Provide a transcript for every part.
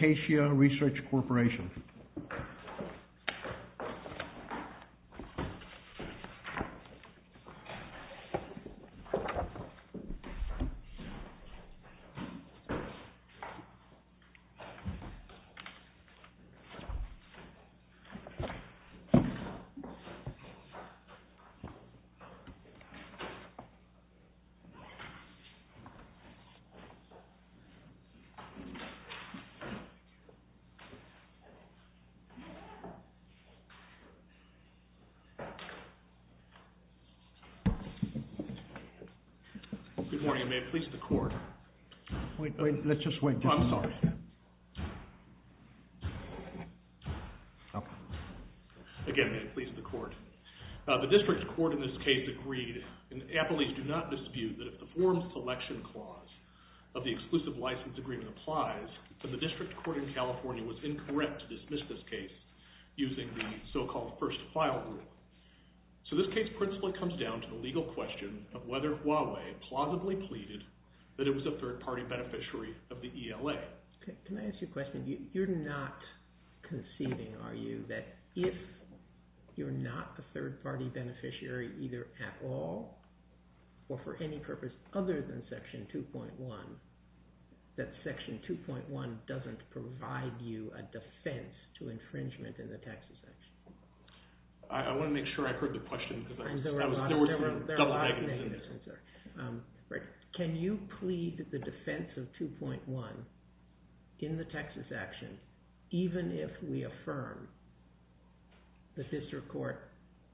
RESEARCH CORPORATION Good morning, and may it please the court. Wait, let's just wait. Oh, I'm sorry. Again, may it please the court. The district court in this case agreed, and appellees do not dispute, that if the Formed Selection Clause of the Exclusive License Agreement applies, then the district court in California was incorrect to dismiss this case using the so-called first-file rule. So this case principally comes down to the legal question of whether Huawei plausibly pleaded that it was a third-party beneficiary of the ELA. Can I ask you a question? You're not conceiving, are you, that if you're not a third-party beneficiary either at all or for any purpose other than Section 2.1, that Section 2.1 doesn't provide you a defense to infringement in the Texas action? I want to make sure I heard the question. There are a lot of negatives in there. Can you plead the defense of 2.1 in the Texas action, even if we affirm the district court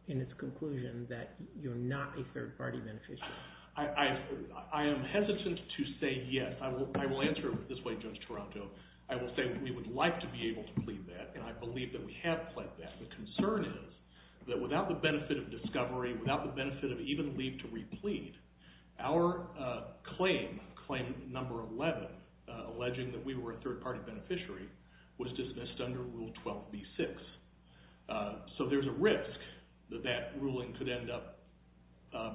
in its conclusion that you're not a third-party beneficiary? I am hesitant to say yes. I will answer it this way, Judge Toronto. I will say we would like to be able to plead that, and I believe that we have pled that. The concern is that without the benefit of discovery, without the benefit of even leave to replead, our claim, claim number 11, alleging that we were a third-party beneficiary, was dismissed under Rule 12b-6. So there's a risk that that ruling could end up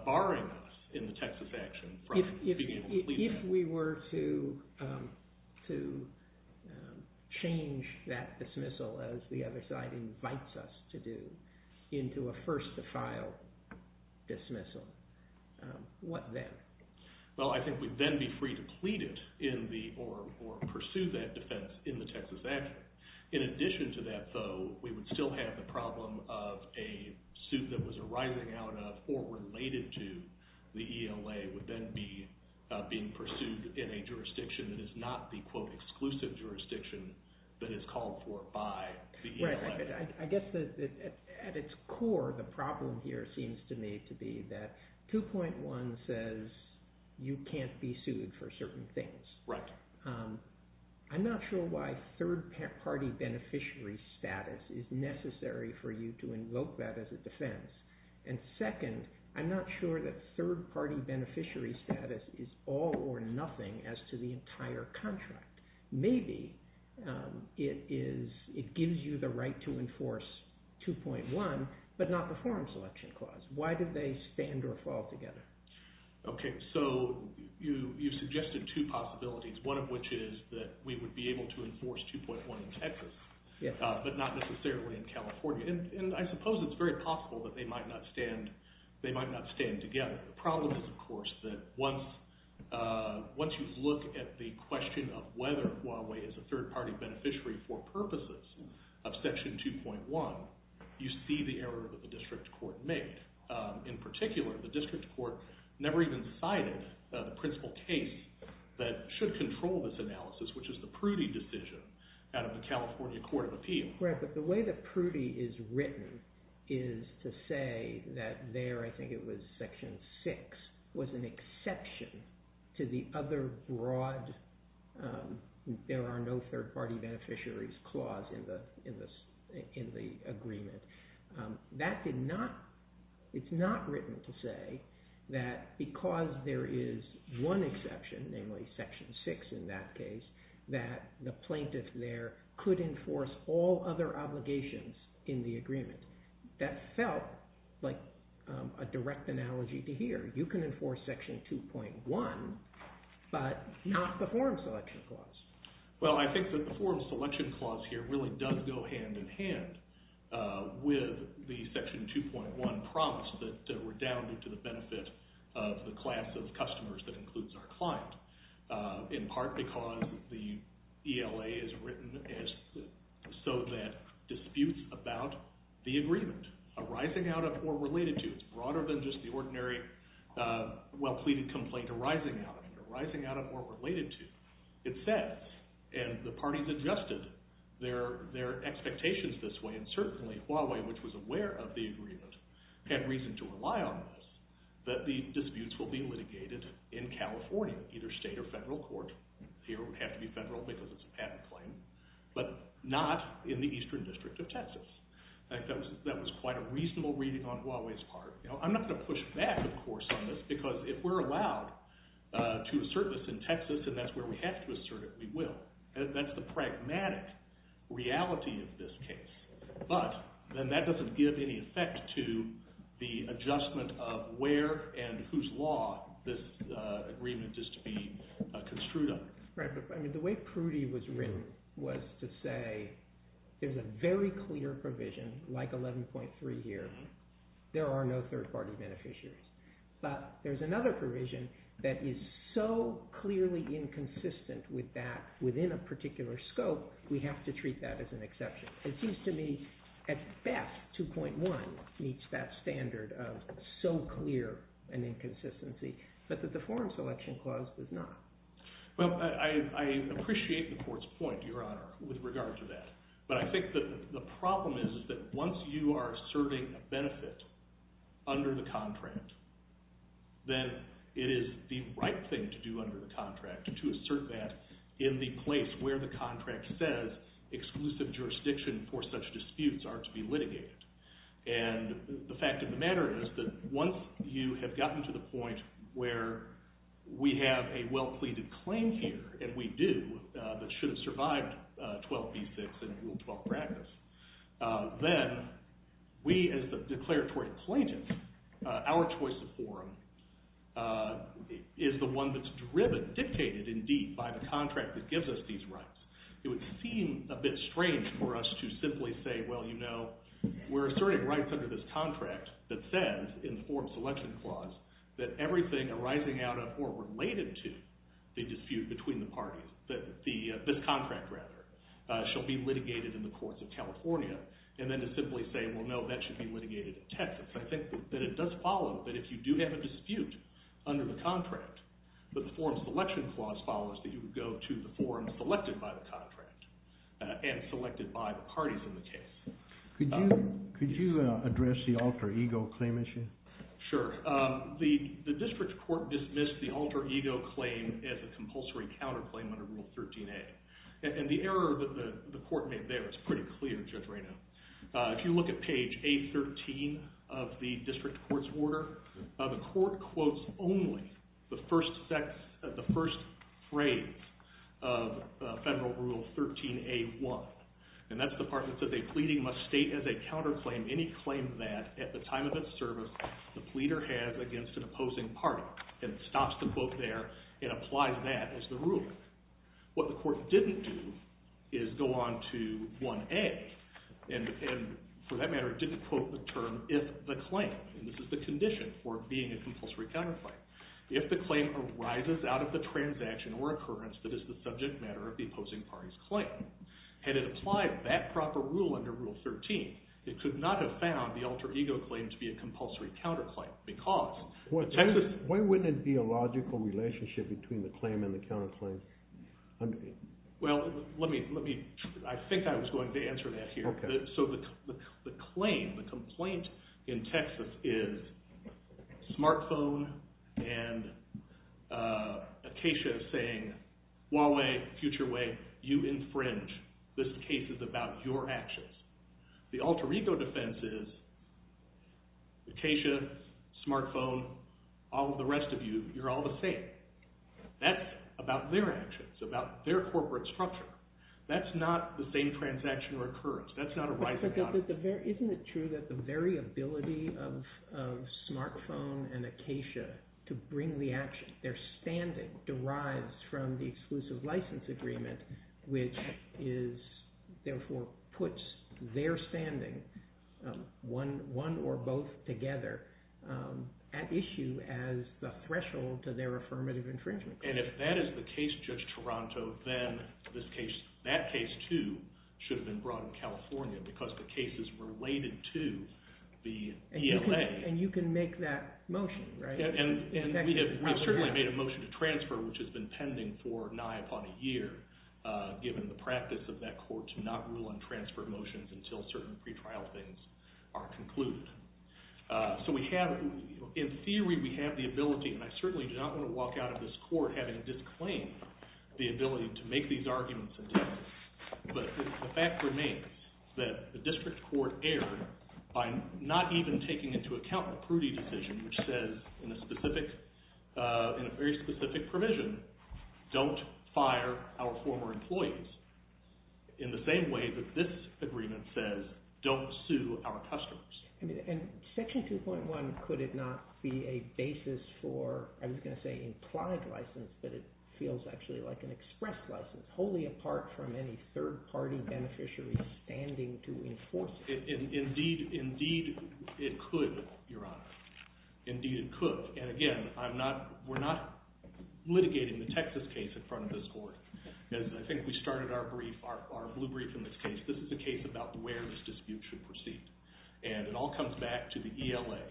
barring us in the Texas action from being able to plead that. If we were to change that dismissal, as the other side invites us to do, into a first-to-file dismissal, what then? Well, I think we'd then be free to plead it or pursue that defense in the Texas action. In addition to that, though, we would still have the problem of a suit that was arising out of or related to the ELA would then be being pursued in a jurisdiction that is not the, quote, exclusive jurisdiction that is called for by the ELA. I guess at its core, the problem here seems to me to be that 2.1 says you can't be sued for certain things. Right. I'm not sure why third-party beneficiary status is necessary for you to invoke that as a defense. And second, I'm not sure that third-party beneficiary status is all or nothing as to the entire contract. Maybe it gives you the right to enforce 2.1, but not the Foreign Selection Clause. Why did they stand or fall together? Okay, so you suggested two possibilities, one of which is that we would be able to enforce 2.1 in Texas, but not necessarily in California. And I suppose it's very possible that they might not stand together. The problem is, of course, that once you look at the question of whether Huawei is a third-party beneficiary for purposes of Section 2.1, you see the error that the district court made. In particular, the district court never even cited the principal case that should control this analysis, which is the Prudy decision out of the California Court of Appeal. Right, but the way that Prudy is written is to say that there, I think it was Section 6, was an exception to the other broad there are no third-party beneficiaries clause in the agreement. That did not, it's not written to say that because there is one exception, namely Section 6 in that case, that the plaintiff there could enforce all other obligations in the agreement. That felt like a direct analogy to here. You can enforce Section 2.1, but not the Foreign Selection Clause. Well, I think that the Foreign Selection Clause here really does go hand-in-hand with the Section 2.1 promise that we're down to the benefit of the class of customers that includes our client. In part because the ELA is written so that disputes about the agreement arising out of or related to, it's broader than just the ordinary well-pleaded complaint arising out of or related to. It says, and the parties adjusted their expectations this way, and certainly Huawei, which was aware of the agreement, had reason to rely on this, that the disputes will be litigated in California, either state or federal court. Here it would have to be federal because it's a patent claim, but not in the Eastern District of Texas. I think that was quite a reasonable reading on Huawei's part. I'm not going to push back, of course, on this because if we're allowed to assert this in Texas, and that's where we have to assert it, we will. That's the pragmatic reality of this case. But then that doesn't give any effect to the adjustment of where and whose law this agreement is to be construed under. The way Prudy was written was to say there's a very clear provision like 11.3 here. There are no third-party beneficiaries. But there's another provision that is so clearly inconsistent with that within a particular scope, we have to treat that as an exception. It seems to me at best 2.1 meets that standard of so clear an inconsistency, but that the Foreign Selection Clause does not. Well, I appreciate the court's point, Your Honor, with regard to that. But I think the problem is that once you are serving a benefit under the contract, then it is the right thing to do under the contract to assert that in the place where the contract says exclusive jurisdiction for such disputes are to be litigated. And the fact of the matter is that once you have gotten to the point where we have a well-pleaded claim here, and we do, that should have survived 12b-6 and Rule 12 practice, then we as the declaratory plaintiffs, our choice of forum is the one that's dictated indeed by the contract that gives us these rights. It would seem a bit strange for us to simply say, well, you know, we're asserting rights under this contract that says in the Foreign Selection Clause that everything arising out of or related to the dispute between the parties, this contract rather, shall be litigated in the courts of California. And then to simply say, well, no, that should be litigated in Texas. I think that it does follow that if you do have a dispute under the contract, that the Foreign Selection Clause follows that you would go to the forum selected by the contract and selected by the parties in the case. Could you address the alter ego claim issue? Sure. The district court dismissed the alter ego claim as a compulsory counterclaim under Rule 13a. And the error that the court made there is pretty clear, Judge Raynaud. If you look at page A13 of the district court's order, the court quotes only the first phrase of Federal Rule 13a.1. And that's the part that says a pleading must state as a counterclaim any claim that at the time of its service the pleader has against an opposing party and stops the quote there and applies that as the ruler. What the court didn't do is go on to 1a and, for that matter, didn't quote the term if the claim, and this is the condition for being a compulsory counterclaim, if the claim arises out of the transaction or occurrence that is the subject matter of the opposing party's claim. Had it applied that proper rule under Rule 13, it could not have found the alter ego claim to be a compulsory counterclaim. Why wouldn't it be a logical relationship between the claim and the counterclaim? Well, let me, I think I was going to answer that here. So the claim, the complaint in Texas is Smartphone and Acacia saying Huawei, FutureWay, you infringe. This case is about your actions. The alter ego defense is Acacia, Smartphone, all of the rest of you, you're all the same. That's about their actions, about their corporate structure. That's not the same transaction or occurrence. That's not arising out of it. Isn't it true that the very ability of Smartphone and Acacia to bring the action, their standing derives from the exclusive license agreement, which therefore puts their standing, one or both together, at issue as the threshold to their affirmative infringement. And if that is the case, Judge Toronto, then that case too should have been brought in California because the case is related to the ELA. And you can make that motion, right? And we have certainly made a motion to transfer, which has been pending for nigh upon a year, given the practice of that court to not rule on transfer motions until certain pre-trial things are concluded. So we have, in theory we have the ability, and I certainly do not want to walk out of this court having disclaimed the ability to make these arguments. But the fact remains that the district court erred by not even taking into account the Prudy decision, which says in a very specific provision, don't fire our former employees, in the same way that this agreement says don't sue our customers. And Section 2.1, could it not be a basis for, I was going to say implied license, but it feels actually like an express license, wholly apart from any third-party beneficiary standing to enforce it? Indeed it could, Your Honor. Indeed it could. And again, we're not litigating the Texas case in front of this court. As I think we started our brief, our blue brief in this case, this is a case about where this dispute should proceed. And it all comes back to the ELA.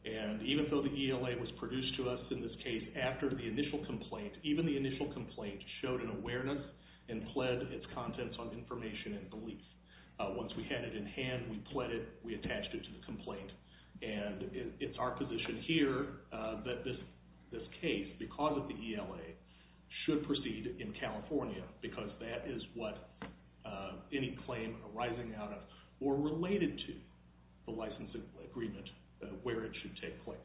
And even though the ELA was produced to us in this case after the initial complaint, even the initial complaint showed an awareness and pled its contents on information and beliefs. Once we had it in hand, we pled it, we attached it to the complaint. And it's our position here that this case, because of the ELA, should proceed in California, because that is what any claim arising out of or related to the license agreement, where it should take place.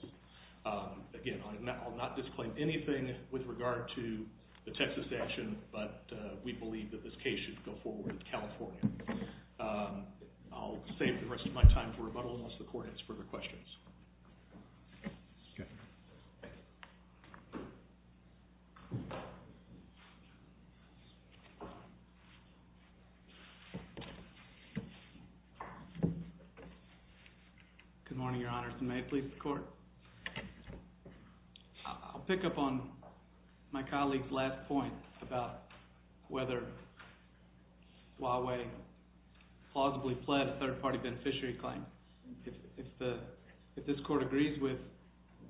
Again, I'll not disclaim anything with regard to the Texas action, but we believe that this case should go forward in California. I'll save the rest of my time for rebuttal unless the court has further questions. Okay. Good morning, Your Honors, and may it please the court. I'll pick up on my colleague's last point about whether Huawei plausibly pled a third-party beneficiary claim. If this court agrees with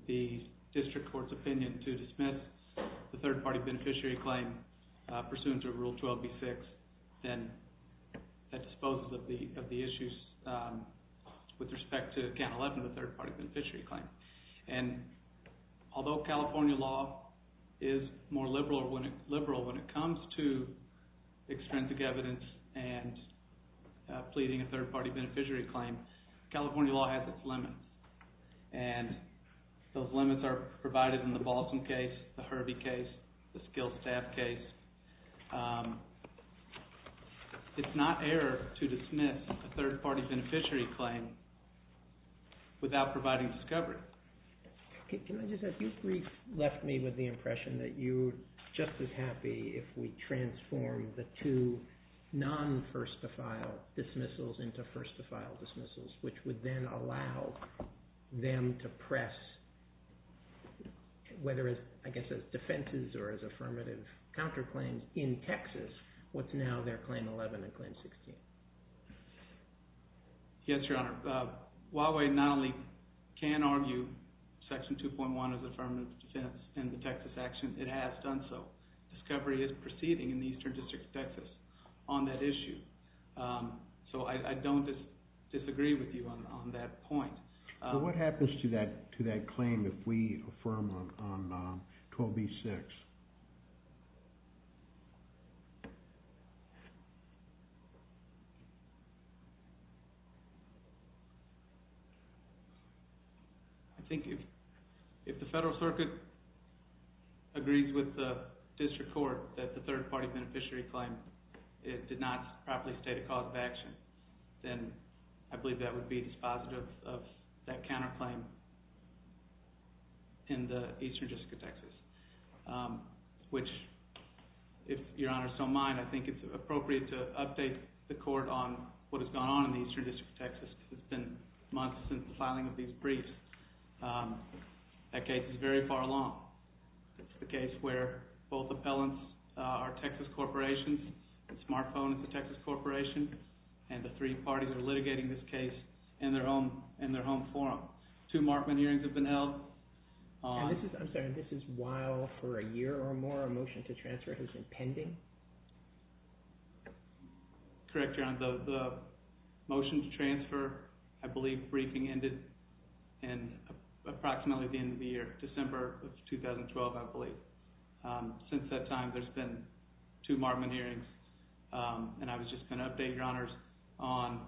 the district court's opinion to dismiss the third-party beneficiary claim pursuant to Rule 12b-6, then that disposes of the issues with respect to Account 11, the third-party beneficiary claim. And although California law is more liberal when it comes to extrinsic evidence and pleading a third-party beneficiary claim, California law has its limits. And those limits are provided in the Balsam case, the Herbie case, the Skill Staff case. It's not error to dismiss a third-party beneficiary claim without providing discovery. Can I just ask, you've left me with the impression that you're just as happy if we transform the two non-first-of-file dismissals into first-of-file dismissals, which would then allow them to press, whether as, I guess, as defenses or as affirmative counterclaims in Texas, what's now their Claim 11 and Claim 16. Yes, Your Honor. Huawei not only can argue Section 2.1 is affirmative defense in the Texas action, it has done so. Discovery is proceeding in the Eastern District of Texas on that issue. So I don't disagree with you on that point. What happens to that claim if we affirm on 12b-6? I think if the Federal Circuit agrees with the District Court that the third-party beneficiary claim did not properly state a cause of action, then I believe that would be dispositive of that counterclaim in the Eastern District of Texas, which, if Your Honor so mind, I think it's appropriate to update the Court on what has gone on in the Eastern District of Texas. It's been months since the filing of these briefs. That case is very far along. It's the case where both appellants are Texas corporations, the smartphone is a Texas corporation, and the three parties are litigating this case in their home forum. Two Markman hearings have been held. I'm sorry, this is while for a year or more a motion to transfer has been pending? Correct, Your Honor. The motion to transfer, I believe, briefing ended in approximately the end of the year, December of 2012, I believe. Since that time, there's been two Markman hearings, and I was just going to update, Your Honor, on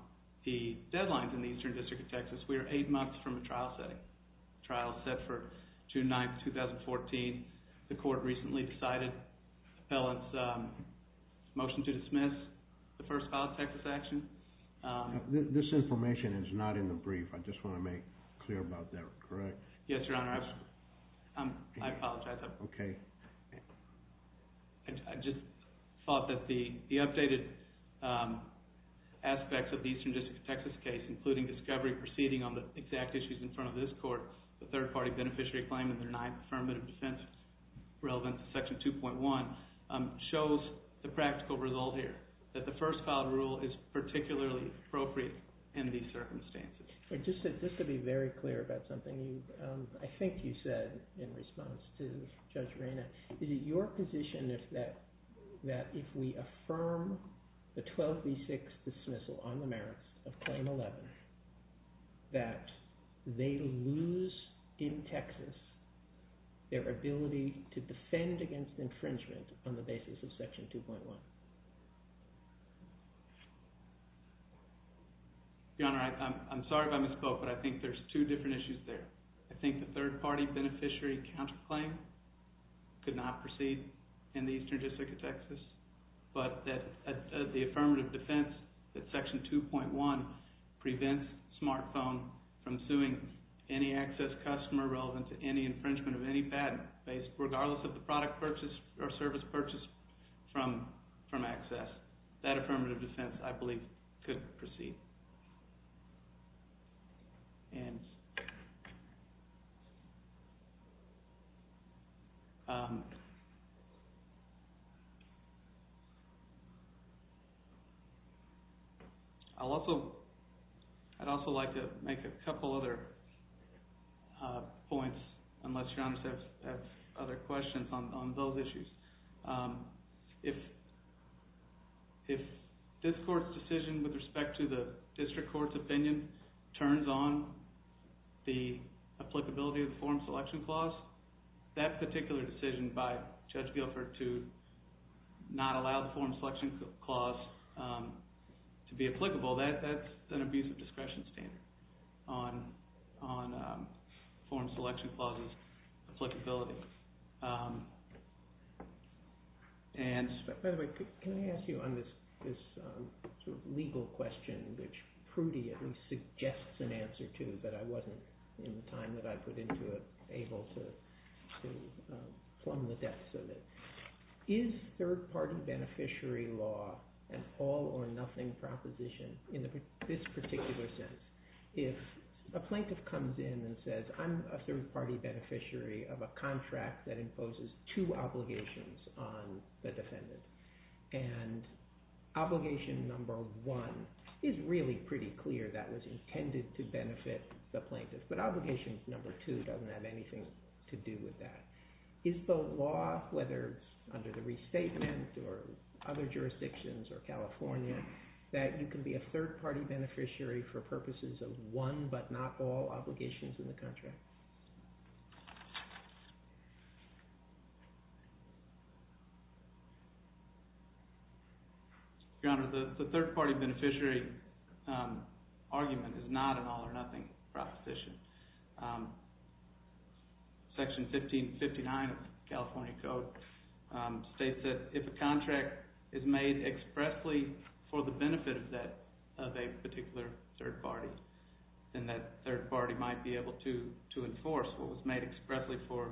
the deadlines in the Eastern District of Texas. We are eight months from a trial setting. The trial is set for June 9, 2014. The Court recently decided the appellant's motion to dismiss the first filed Texas action. This information is not in the brief. I just want to make clear about that, correct? Yes, Your Honor. I apologize. Okay. I just thought that the updated aspects of the Eastern District of Texas case, including discovery proceeding on the exact issues in front of this Court, the third-party beneficiary claim in their non-affirmative defense relevant to Section 2.1, shows the practical result here, that the first filed rule is particularly appropriate in these circumstances. Just to be very clear about something, I think you said in response to Judge Reyna, is it your position that if we affirm the 12B6 dismissal on the merits of Claim 11, that they lose in Texas their ability to defend against infringement on the basis of Section 2.1? Your Honor, I'm sorry about Ms. Cope, but I think there's two different issues there. I think the third-party beneficiary counterclaim could not proceed in the Eastern District of Texas, but the affirmative defense that Section 2.1 prevents Smartphone from suing any access customer relevant to any infringement of any patent, regardless of the product purchase or service purchase from Access, that affirmative defense, I believe, could proceed. I'd also like to make a couple other points, unless Your Honor has other questions on those issues. If this Court's decision with respect to the District Court's opinion turns on the applicability of the Forum Selection Clause, that particular decision by Judge Guilford to not allow the Forum Selection Clause to be applicable, that's an abuse of discretion standard on Forum Selection Clause's applicability. By the way, can I ask you on this legal question, which Prudy at least suggests an answer to, but I wasn't, in the time that I put into it, able to plumb the depths of it. Is third-party beneficiary law an all-or-nothing proposition in this particular sense? If a plaintiff comes in and says, I'm a third-party beneficiary of a contract that imposes two obligations on the defendant, and obligation number one is really pretty clear, that was intended to benefit the plaintiff, but obligation number two doesn't have anything to do with that. Is the law, whether under the restatement or other jurisdictions or California, that you can be a third-party beneficiary for purposes of one, but not all, obligations in the contract? Your Honor, the third-party beneficiary argument is not an all-or-nothing proposition. Section 1559 of the California Code states that if a contract is made expressly for the benefit of a particular third party, then that third party might be able to enforce what was made expressly for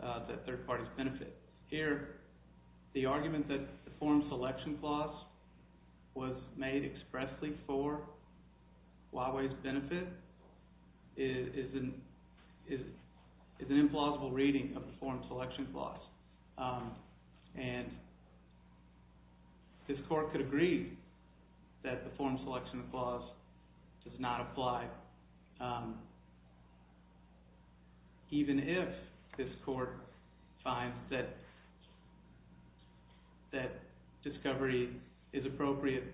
that third party's benefit. Here, the argument that the Form Selection Clause was made expressly for Huawei's benefit is an implausible reading of the Form Selection Clause. This Court could agree that the Form Selection Clause does not apply, even if this Court finds that discovery is appropriate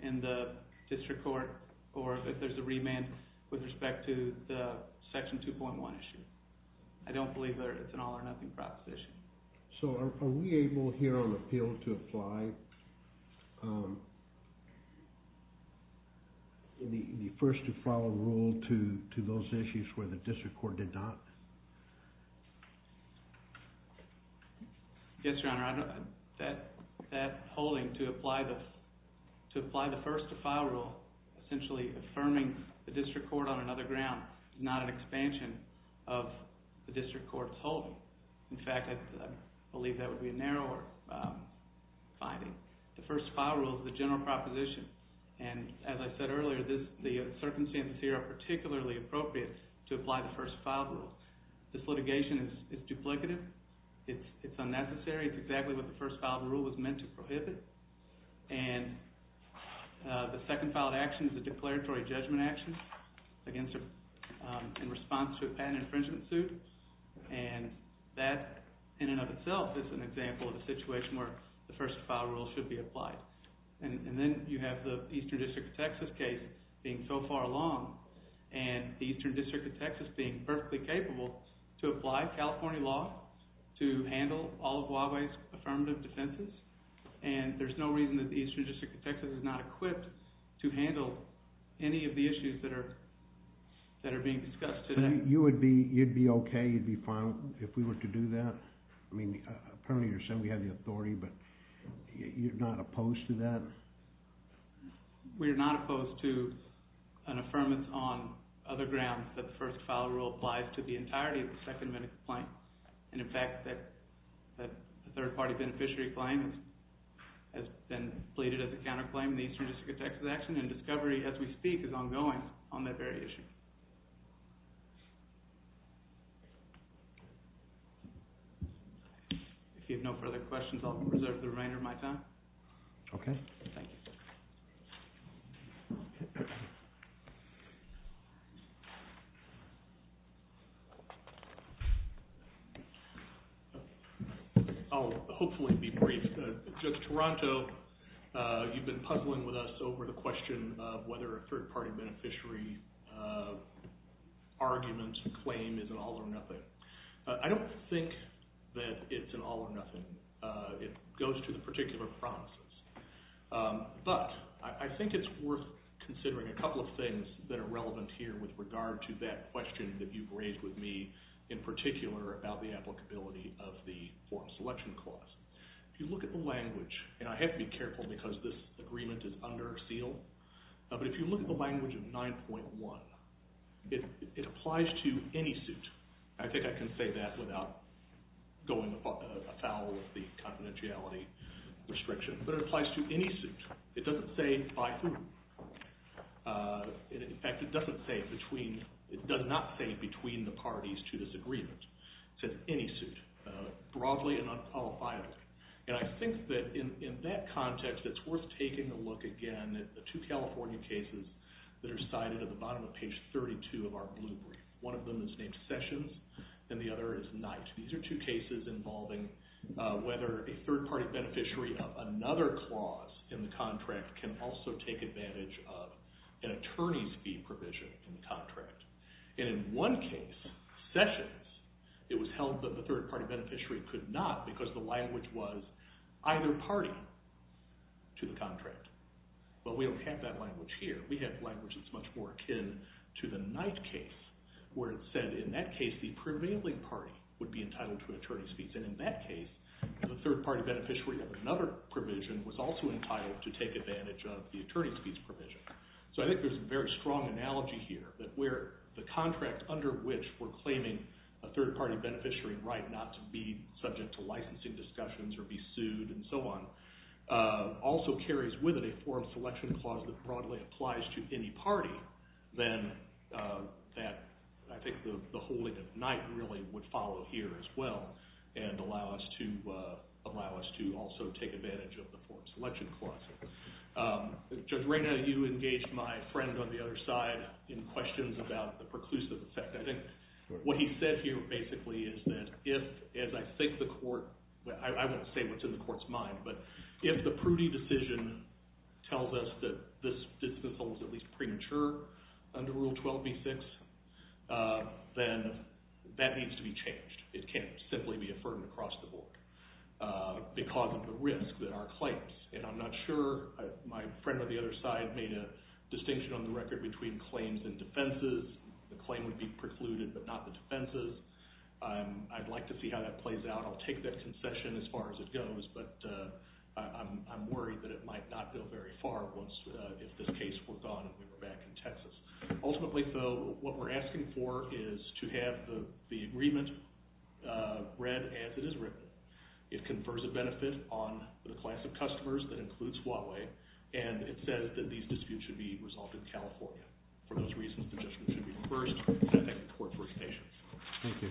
in the District Court, or that there's a remand with respect to the Section 2.1 issue. I don't believe that it's an all-or-nothing proposition. So, are we able here on appeal to apply the first-to-file rule to those issues where the District Court did not? Yes, Your Honor. That holding to apply the first-to-file rule, essentially affirming the District Court on another ground, In fact, I believe that would be a narrower finding. The first-to-file rule is a general proposition. And as I said earlier, the circumstances here are particularly appropriate to apply the first-to-file rule. This litigation is duplicative. It's unnecessary. It's exactly what the first-to-file rule was meant to prohibit. And the second filed action is a declaratory judgment action in response to a patent infringement suit. And that, in and of itself, is an example of a situation where the first-to-file rule should be applied. And then you have the Eastern District of Texas case being so far along, and the Eastern District of Texas being perfectly capable to apply California law to handle all of Huawei's affirmative defenses. And there's no reason that the Eastern District of Texas is not equipped to handle any of the issues that are being discussed today. And you would be okay, you'd be fine, if we were to do that? I mean, apparently you're saying we have the authority, but you're not opposed to that? We are not opposed to an affirmance on other grounds that the first-to-file rule applies to the entirety of the second medical claim. And in fact, the third-party beneficiary claim has been pleaded as a counterclaim in the Eastern District of Texas action, and discovery as we speak is ongoing on that very issue. If you have no further questions, I'll reserve the remainder of my time. Okay. Thank you. I'll hopefully be brief. Judge Taranto, you've been puzzling with us over the question of whether a third-party beneficiary argument claim is an all-or-nothing. I don't think that it's an all-or-nothing. It goes to the particular promises. But I think it's worth considering a couple of things that are relevant here with regard to that question that you've raised with me in particular about the applicability of the form selection clause. If you look at the language, and I have to be careful because this agreement is under seal, but if you look at the language of 9.1, it applies to any suit. I think I can say that without going afoul of the confidentiality restriction. But it applies to any suit. It doesn't say by whom. In fact, it doesn't say between. It does not say between the parties to this agreement. It says any suit, broadly and unqualifiedly. And I think that in that context, it's worth taking a look again at the two California cases that are cited at the bottom of page 32 of our blue brief. One of them is named Sessions and the other is Knight. These are two cases involving whether a third-party beneficiary of another clause in the contract can also take advantage of an attorney's fee provision in the contract. And in one case, Sessions, it was held that the third-party beneficiary could not because the language was either party to the contract. But we don't have that language here. We have language that's much more akin to the Knight case where it said in that case the prevailing party would be entitled to attorney's fees. And in that case, the third-party beneficiary of another provision was also entitled to take advantage of the attorney's fees provision. So I think there's a very strong analogy here that where the contract under which we're claiming a third-party beneficiary right not to be subject to licensing discussions or be sued and so on also carries with it a form selection clause that broadly applies to any party, then I think the holding of Knight really would follow here as well and allow us to also take advantage of the form selection clause. Judge Reyna, you engaged my friend on the other side in questions about the preclusive effect. I think what he said here basically is that if, as I think the court, I won't say what's in the court's mind, but if the Prudy decision tells us that this distance holds at least premature under Rule 12b-6, then that needs to be changed. It can't simply be affirmed across the board because of the risk that our claims and I'm not sure my friend on the other side made a distinction on the record between claims and defenses. The claim would be precluded but not the defenses. I'd like to see how that plays out. I'll take that concession as far as it goes, but I'm worried that it might not go very far once, if this case were gone and we were back in Texas. Ultimately, though, what we're asking for is to have the agreement read as it is written. It confers a benefit on the class of customers that includes Huawei, and it says that these disputes should be resolved in California. For those reasons, the judgment should be reversed, and I thank the court for its patience. Thank you.